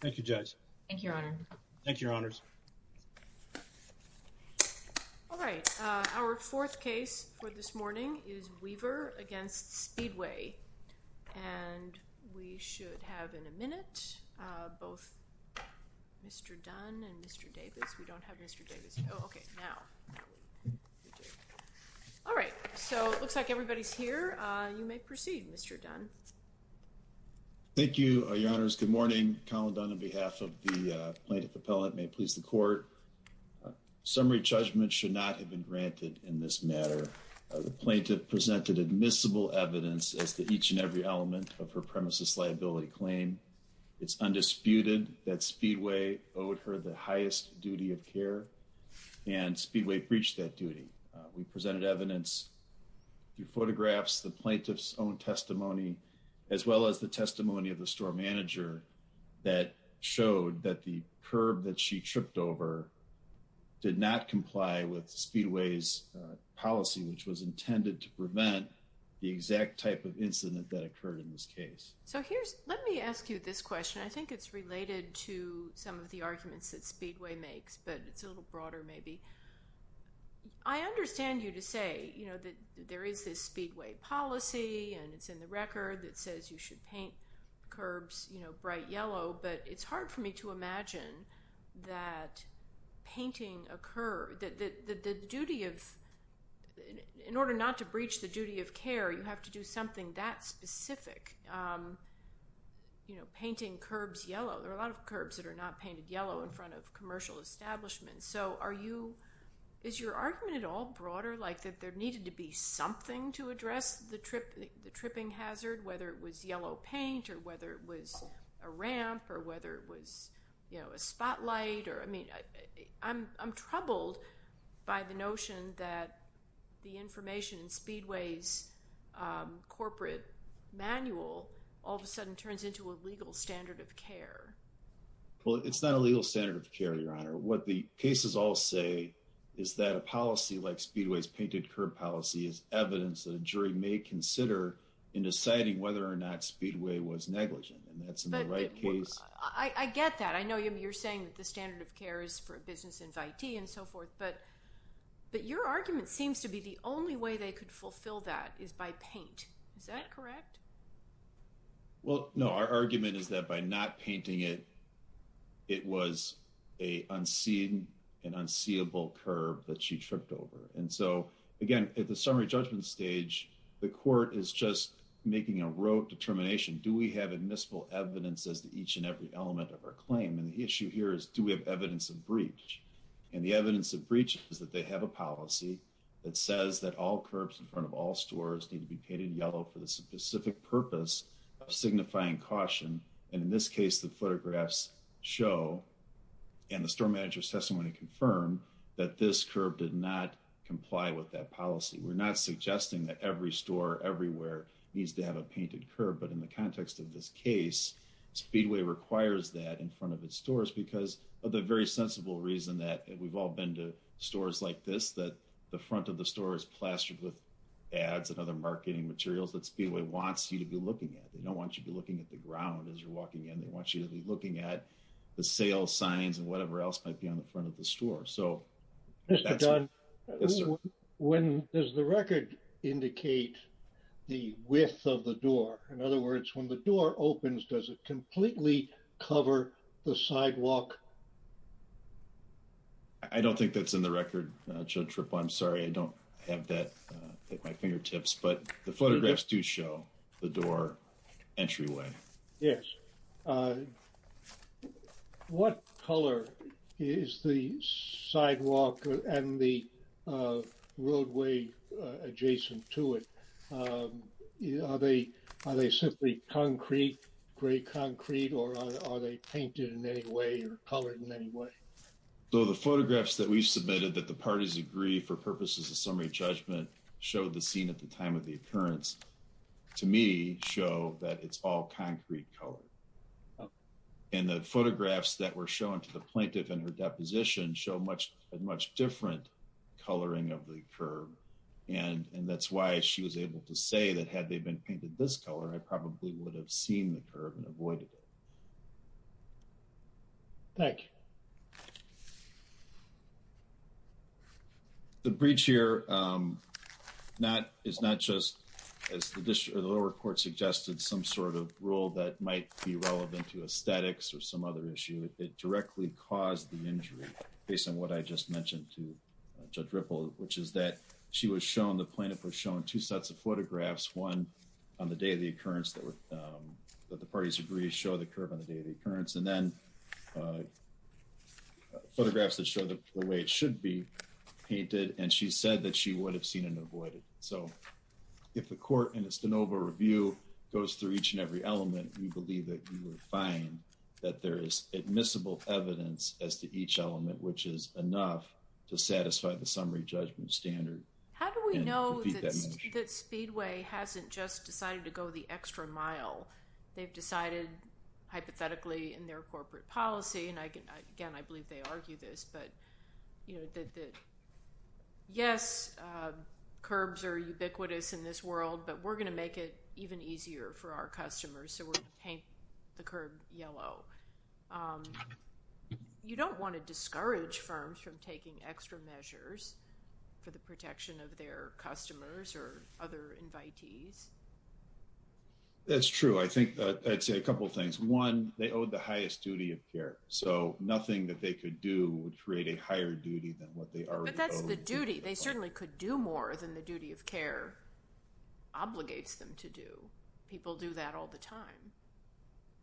Thank you, Judge. Thank you, Your Honor. Thank you, Your Honors. All right, our fourth case for this morning is Weaver v. Speedway and we should have in a minute both Mr. Dunn and Mr. Davis. We don't have Mr. Davis. Okay, now. All right, so it looks like everybody's here. You may proceed, Mr. Thank you, Your Honors. Good morning. Collin Dunn on behalf of the plaintiff appellate. May it please the court. Summary judgment should not have been granted in this matter. The plaintiff presented admissible evidence as to each and every element of her premises liability claim. It's undisputed that Speedway owed her the highest duty of care and Speedway breached that duty. We presented evidence through photographs, the plaintiff's own testimony, as well as the testimony of the store manager that showed that the curb that she tripped over did not comply with Speedway's policy, which was intended to prevent the exact type of incident that occurred in this case. So here's, let me ask you this question. I think it's related to some of the arguments that Speedway makes, but it's a to say, you know, that there is this Speedway policy and it's in the record that says you should paint curbs, you know, bright yellow, but it's hard for me to imagine that painting a curb, that the duty of, in order not to breach the duty of care, you have to do something that specific. You know, painting curbs yellow. There are a lot of curbs that are not painted yellow in front of like that there needed to be something to address the trip, the tripping hazard, whether it was yellow paint or whether it was a ramp or whether it was, you know, a spotlight or, I mean, I'm, I'm troubled by the notion that the information in Speedway's, um, corporate manual all of a sudden turns into a legal standard of care. Well, it's not a legal standard of care, Your Honor. What the cases all say is that a policy like Speedway's painted curb policy is evidence that a jury may consider in deciding whether or not Speedway was negligent. And that's in the right case. I get that. I know you're saying that the standard of care is for a business invitee and so forth, but, but your argument seems to be the only way they could fulfill that is by paint. Is that correct? Well, no, our argument is that by not painting it, it was a unseen and unseeable curb that she tripped over. And so again, at the summary judgment stage, the court is just making a rote determination. Do we have admissible evidence as to each and every element of our claim? And the issue here is do we have evidence of breach? And the evidence of breach is that they have a policy that says that all curbs in front of all stores need to be painted yellow for the specific purpose of signifying caution. And in this case, the photographs show and the store manager's testimony confirm that this curb did not comply with that policy. We're not suggesting that every store everywhere needs to have a painted curb, but in the context of this case, Speedway requires that in front of its stores because of the very sensible reason that we've all been to stores like this, that the front of the store is plastered with ads and other marketing materials that Speedway wants you to be looking at. They don't want you to be looking at the ground as you're walking in. They want you to be looking at the sales signs and whatever else might be on the front of the store. So... Mr. Dunn, when does the record indicate the width of the door? In other words, when the door opens, does it completely cover the sidewalk? I don't think that's in the record, Judge Rippa. I'm sorry. I don't have that at my fingertips, but the photographs do show the door entryway. Yes. What color is the sidewalk and the roadway adjacent to it? Are they simply concrete, gray concrete, or are they painted in any way or color? Colored in any way. So the photographs that we've submitted that the parties agree for purposes of summary judgment show the scene at the time of the occurrence, to me, show that it's all concrete color. And the photographs that were shown to the plaintiff in her deposition show a much different coloring of the curve. And that's why she was able to say that had they been painted this color, I probably would have seen the curve and avoided it. Thank you. The breach here is not just, as the lower court suggested, some sort of rule that might be relevant to aesthetics or some other issue. It directly caused the injury, based on what I just mentioned to Judge Rippa, which is that she was shown, the plaintiff was shown, two sets of photographs, one on the day of the occurrence that the parties agree show the curve on the day of the occurrence, and then photographs that show the way it should be painted. And she said that she would have seen and avoided. So if the court in its de novo review goes through each and every element, we believe that you will find that there is admissible evidence as to each element, which is enough to satisfy the summary judgment standard. How do we know that Speedway hasn't just decided to go the extra mile? They've decided, hypothetically, in their corporate policy, and again, I believe they argue this, but yes, curbs are ubiquitous in this world, but we're going to make it even easier for our customers, so we're going to paint the curb yellow. You don't want to discourage firms from taking extra measures for the protection of their customers or other invitees. That's true. I think I'd say a couple things. One, they owe the highest duty of care, so nothing that they could do would create a higher duty than what they already owe. But that's the duty. They certainly could do more than the duty of care obligates them to do. People do that all the time.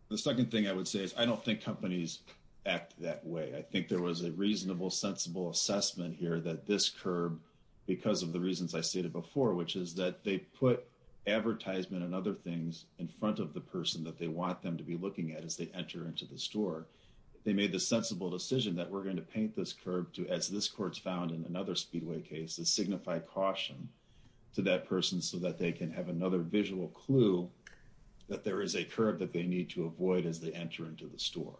The second thing I would say is I don't think companies act that way. I think there was a reasonable, sensible assessment here that this curb, because of the reasons I stated before, which is that they put advertisement and other things in front of the person that they want them to be looking at as they enter into the store. They made the sensible decision that we're going to paint this curb to, as this court's found in another Speedway case, to signify caution to that person so that they can have another visual clue that there is a curb that they need to avoid as they enter into the store.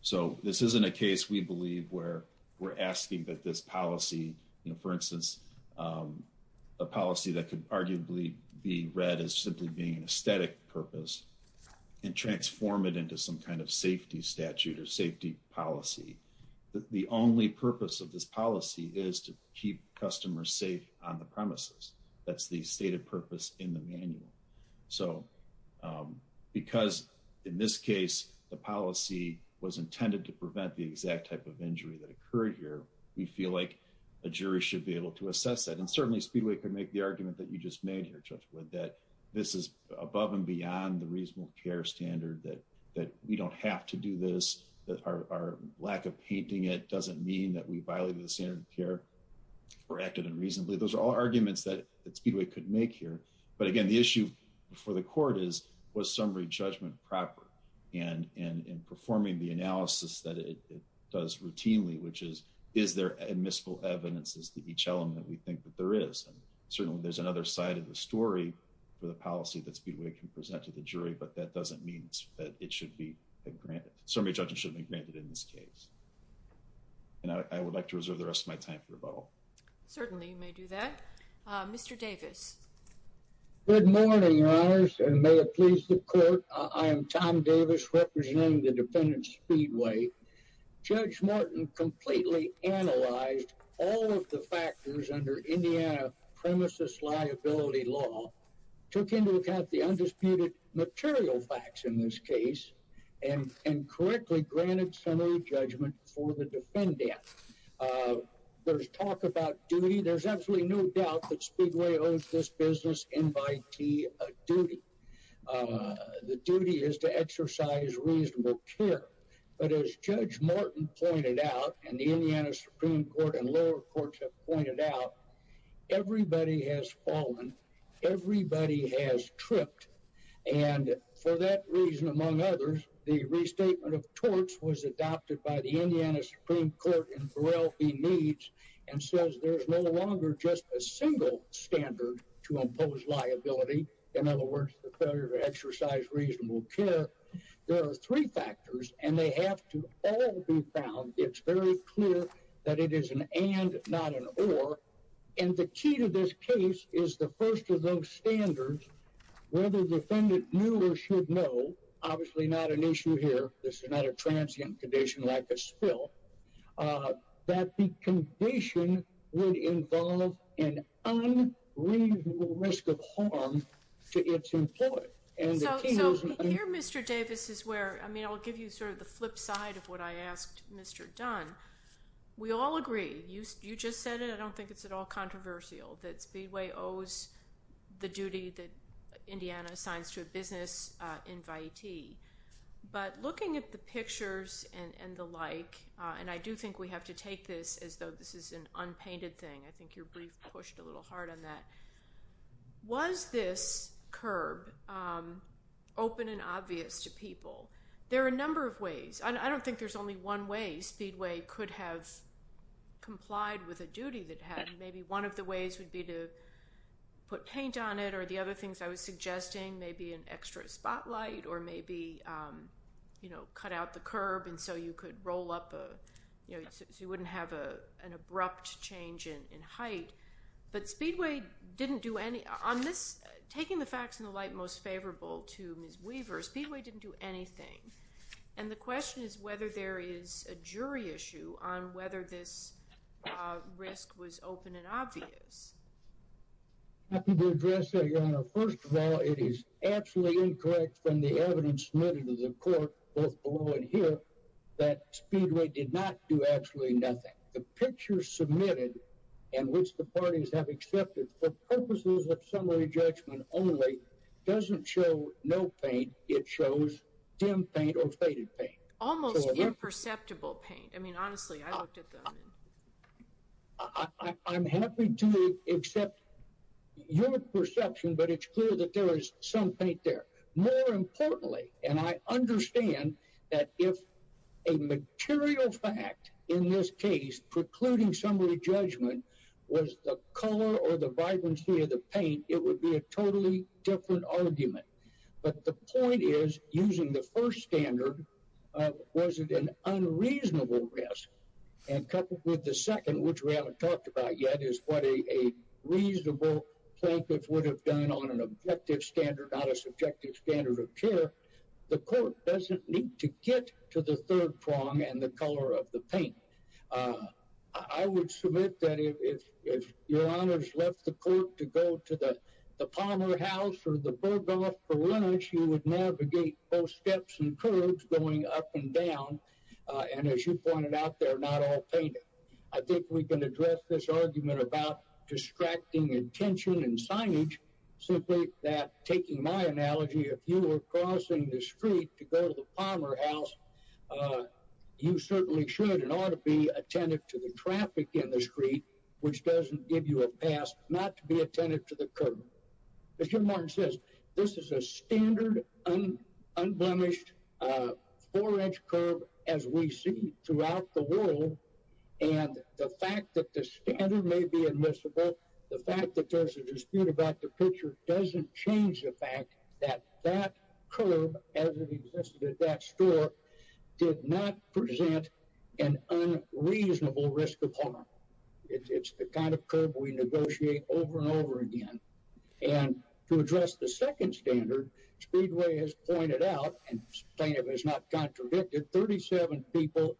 So this isn't a case, we believe, where we're asking that this policy, for instance, a policy that could arguably be read as simply being an aesthetic purpose and transform it into some kind of safety statute or safety policy. The only purpose of this policy is to keep customers safe on the premises. That's the stated purpose in the manual. So because, in this case, the policy was intended to prevent the exact type of injury that occurred here, we feel like a jury should be able to assess that. And certainly, Speedway could make the argument that you just made here, Judge Wood, that this is above and beyond the reasonable care standard, that we don't have to do this, that our lack of painting it doesn't mean that we violate the standard of care or acted unreasonably. Those are all arguments that Speedway could make here. But again, the issue for the court is, was summary judgment proper? And in performing the analysis that it does routinely, which is, is there admissible evidences to each element we think that there is? And certainly, there's another side of the story for the policy that Speedway can present to the jury, but that doesn't mean that it should be granted. Summary judgment should be granted in this case. And I would like to reserve the rest of my time for rebuttal. Certainly, you may do that. Mr. Davis. Good morning, Your Honors, and may it please the court. I am Tom Davis, representing the defendant, Speedway. Judge Morton completely analyzed all of the factors under Indiana premises liability law, took into account the undisputed material facts in this case, and correctly granted summary judgment for the defendant. There's talk about duty. There's absolutely no doubt that Speedway owns this business in by duty. The duty is to exercise reasonable care. But as Judge Morton pointed out, and the Indiana Supreme Court and lower courts have pointed out, everybody has fallen. Everybody has tripped. And for that reason, among others, the restatement of torts was adopted by the Indiana Supreme Court in Burrell v. Needs and says there's no longer just a single standard to impose liability. In other words, the failure to exercise reasonable care. There are three factors, and they have to all be found. It's very clear that it is an and, not an or. And the key to this case is the first of those standards, whether the defendant knew or should know, obviously not an issue here, this is not a transient condition like a spill, that the condition would involve an unreasonable risk of harm to its employee. Here, Mr. Davis, is where, I mean, I'll give you sort of the flip side of what I asked Mr. Dunn. We all agree. You just said it. I don't think it's at all controversial that Speedway owes the duty that Indiana assigns to a business invitee. But looking at the pictures and the like, and I do think we have to take this as though this is an unpainted thing. I think your brief pushed a little hard on that. Was this curb open and obvious to people? There are a number of ways. I don't think there's only one way Speedway could have complied with a duty that had. Maybe one of the ways would be to put paint on it, or the other things I was suggesting, maybe an extra spotlight, or maybe cut out the curb and so you could roll up a... So you wouldn't have an abrupt change in height. But Speedway didn't do any... On this, taking the facts in the light most favorable to Ms. Weaver, Speedway didn't do anything. And the question is whether there is a jury issue on whether this risk was open and obvious. I'm happy to address that, Your Honor. First of all, it is absolutely incorrect from the evidence submitted to the court, both below and here, that Speedway did not do absolutely nothing. The picture submitted, and which the parties have accepted for purposes of summary judgment only, doesn't show no paint. It shows dim paint or faded paint. Almost imperceptible paint. I mean, honestly, I looked except your perception, but it's clear that there is some paint there. More importantly, and I understand that if a material fact in this case precluding summary judgment was the color or the vibrancy of the paint, it would be a totally different argument. But the point is, using the first standard, was it an unreasonable risk? And coupled with the second, which we haven't talked about yet, is what a reasonable plaintiff would have done on an objective standard, not a subjective standard of care. The court doesn't need to get to the third prong and the color of the paint. I would submit that if your honors left the court to go to the Palmer House or the Bergdorf Berliners, you would navigate both steps and curves going up and down. And as you pointed out, they're not all painted. I think we can address this argument about distracting intention and signage simply that, taking my analogy, if you were crossing the street to go to the Palmer House, you certainly should and ought to be attentive to the traffic in the street, which doesn't give you a pass not to be attentive to the curve. As Jim Martin says, this is a standard, unblemished, four-inch curve as we see throughout the world. And the fact that the standard may be admissible, the fact that there's a dispute about the picture doesn't change the fact that that curve, as it existed at that store, did not present an unreasonable risk of harm. It's the kind of curve we negotiate over and over again. And to address the second standard, Speedway has pointed out, and plaintiff has not contradicted, that 37 people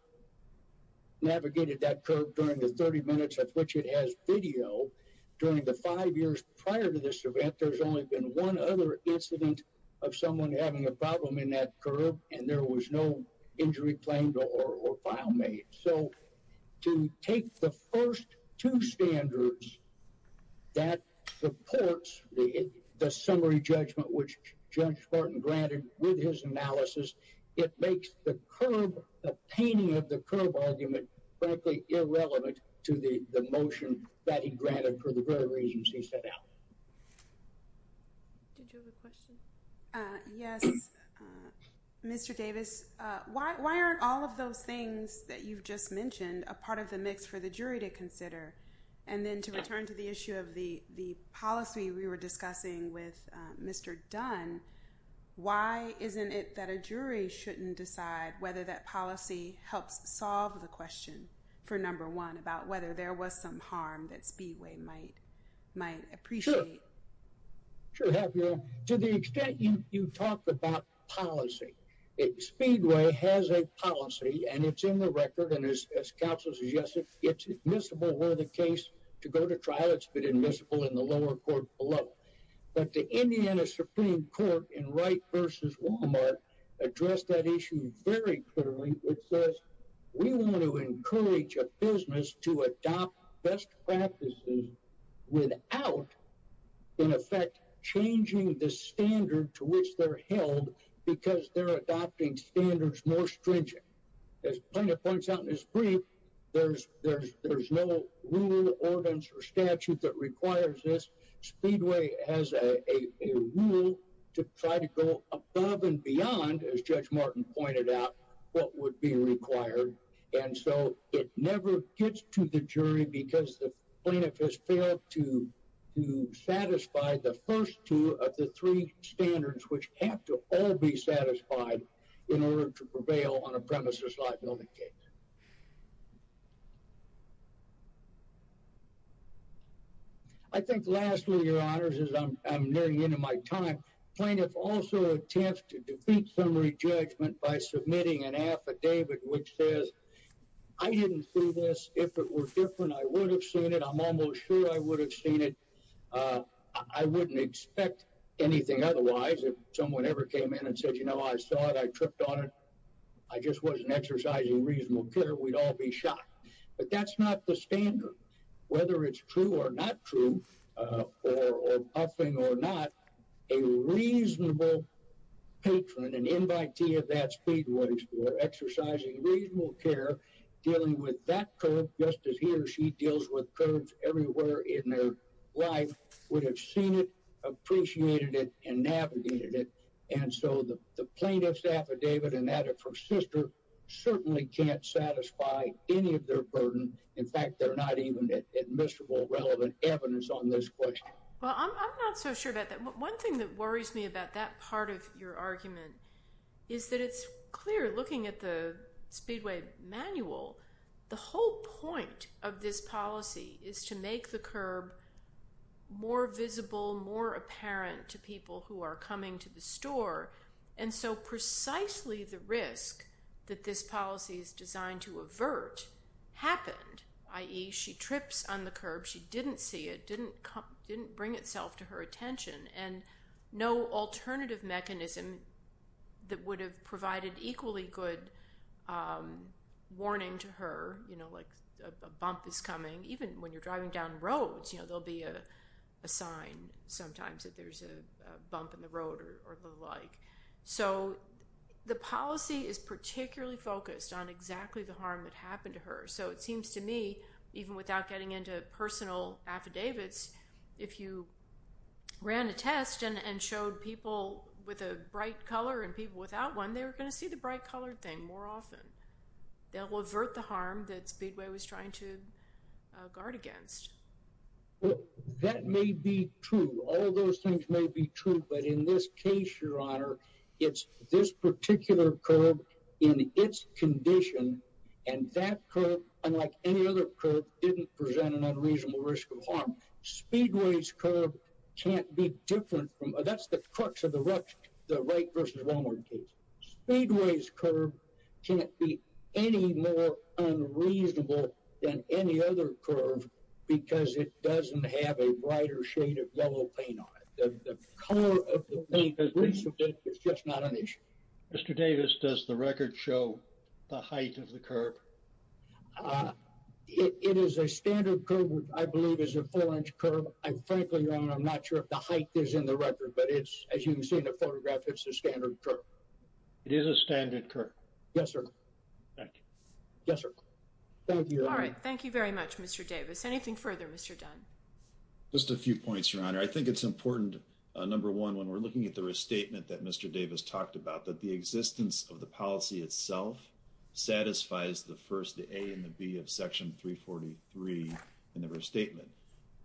navigated that curve during the 30 minutes at which it has video. During the five years prior to this event, there's only been one other incident of someone having a problem in that curve and there was no injury claimed or file made. So to take the first two standards that supports the summary judgment, which Judge Martin granted with his analysis, it makes the curve, the painting of the curve argument, frankly irrelevant to the motion that he granted for the very reasons he set out. Did you have a question? Yes. Mr. Davis, why aren't all of those things that you've just mentioned a part of the mix for the jury to consider? And then to return to the issue of the policy we were discussing with Mr. Dunn, why isn't it that a jury shouldn't decide whether that policy helps solve the question for number one about whether there was some harm that Speedway might appreciate? Sure. To the extent you talk about policy, Speedway has a policy and it's in the record and as counsel suggested, it's admissible where the case to go to trial, it's been admissible in the lower court below. But the Indiana Supreme Court in Wright versus Walmart addressed that issue very clearly. It says we want to encourage a business to adopt best practices without, in effect, changing the standard to which they're held because they're adopting standards more stringent. As Plaintiff points out in his brief, there's no rule, ordinance, or has a rule to try to go above and beyond, as Judge Martin pointed out, what would be required. And so it never gets to the jury because the plaintiff has failed to satisfy the first two of the three standards, which have to all be satisfied in order to prevail on a premises liability case. I think lastly, your honors, as I'm nearing the end of my time, plaintiff also attempts to defeat summary judgment by submitting an affidavit which says, I didn't see this. If it were different, I would have seen it. I'm almost sure I would have seen it. I wouldn't expect anything otherwise. If someone ever came in and said, you know, I saw it, I tripped on it, I just wasn't exercising reasonable care, we'd all be shocked. But that's not the standard. Whether it's true or not true, or buffing or not, a reasonable patron, an invitee of that speedway for exercising reasonable care, dealing with that curb, just as he or she deals with curbs everywhere in their life, would have seen it, and that of her sister, certainly can't satisfy any of their burden. In fact, they're not even admissible relevant evidence on this question. Well, I'm not so sure about that. One thing that worries me about that part of your argument is that it's clear, looking at the speedway manual, the whole point of this policy is to make the curb more visible, more apparent to people who are coming to the curb. Obviously, the risk that this policy is designed to avert happened, i.e., she trips on the curb, she didn't see it, didn't bring itself to her attention, and no alternative mechanism that would have provided equally good warning to her, you know, like a bump is coming. Even when you're driving down roads, you know, there'll be a sign sometimes that there's a bump in the road or the like. So the policy is particularly focused on exactly the harm that happened to her. So it seems to me, even without getting into personal affidavits, if you ran a test and showed people with a bright color and people without one, they were going to see the bright colored thing more often. They'll avert the harm that speedway was trying to guard against. Well, that may be true. All those things may be true, but in this case, your honor, it's this particular curb in its condition, and that curb, unlike any other curb, didn't present an unreasonable risk of harm. Speedway's curb can't be different from, that's the crux of the right versus wrongward case. Speedway's curb can't be any more unreasonable than any other curb because it doesn't have a brighter shade of yellow paint on it. The color of the paint is just not an issue. Mr. Davis, does the record show the height of the curb? It is a standard curb, which I believe is a four-inch curb. And frankly, your honor, I'm not sure if the height is in the record, but it's, as you can see in the photograph, it's a standard curb. It is a standard curb. Yes, sir. Thank you. Yes, sir. Anything further, Mr. Dunn? Just a few points, your honor. I think it's important, number one, when we're looking at the restatement that Mr. Davis talked about, that the existence of the policy itself satisfies the first, the A and the B of Section 343 in the restatement.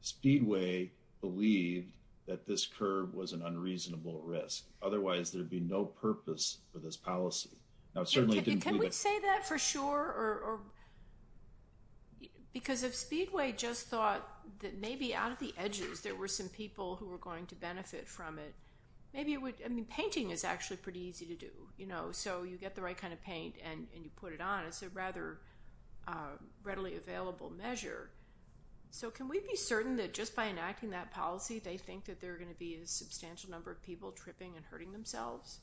Speedway believed that this curb was an unreasonable risk. Otherwise, there would be no purpose for this policy. Now, it certainly didn't... Can we say that for sure? Because if Speedway just thought that maybe out of the edges, there were some people who were going to benefit from it, maybe it would... I mean, painting is actually pretty easy to do. So you get the right kind of paint and you put it on, it's a rather readily available measure. So can we be certain that just by enacting that policy, they think that there are gonna be a substantial number of people tripping and hurting themselves?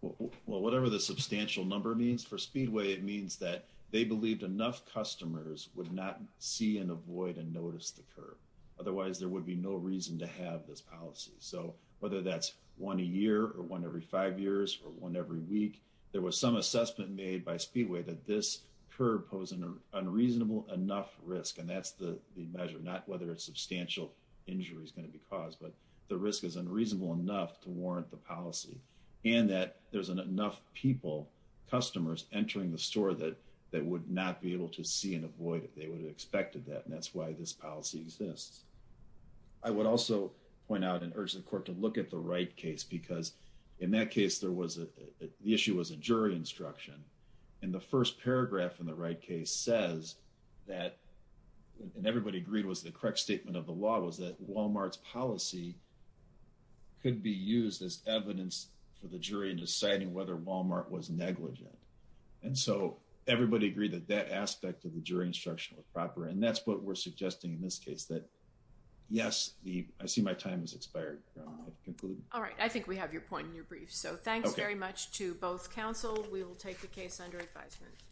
Well, whatever the substantial number means for Speedway, it means that they believed enough customers would not see and avoid and notice the curb. Otherwise, there would be no reason to have this policy. So whether that's one a year or one every five years or one every week, there was some assessment made by Speedway that this curb posed an unreasonable enough risk, and that's the measure, not whether a substantial injury is gonna be caused, but the risk is unreasonable enough to warrant the policy, and that there's enough people, customers entering the store that would not be able to see and avoid it. They would have expected that, and that's why this policy exists. I would also point out and urge the court to look at the Wright case, because in that case, there was a... The issue was a jury instruction, and the first paragraph in the Wright case says that, and everybody agreed was the correct statement of the law, was that Walmart's policy could be used as evidence for the jury in deciding whether Walmart was negligent. And so, everybody agreed that that aspect of the jury instruction was proper, and that's what we're suggesting in this case, that yes, the... I see my time has expired. All right. I think we have your point in your brief. So thanks very much to both counsel. We will take the case under advisement.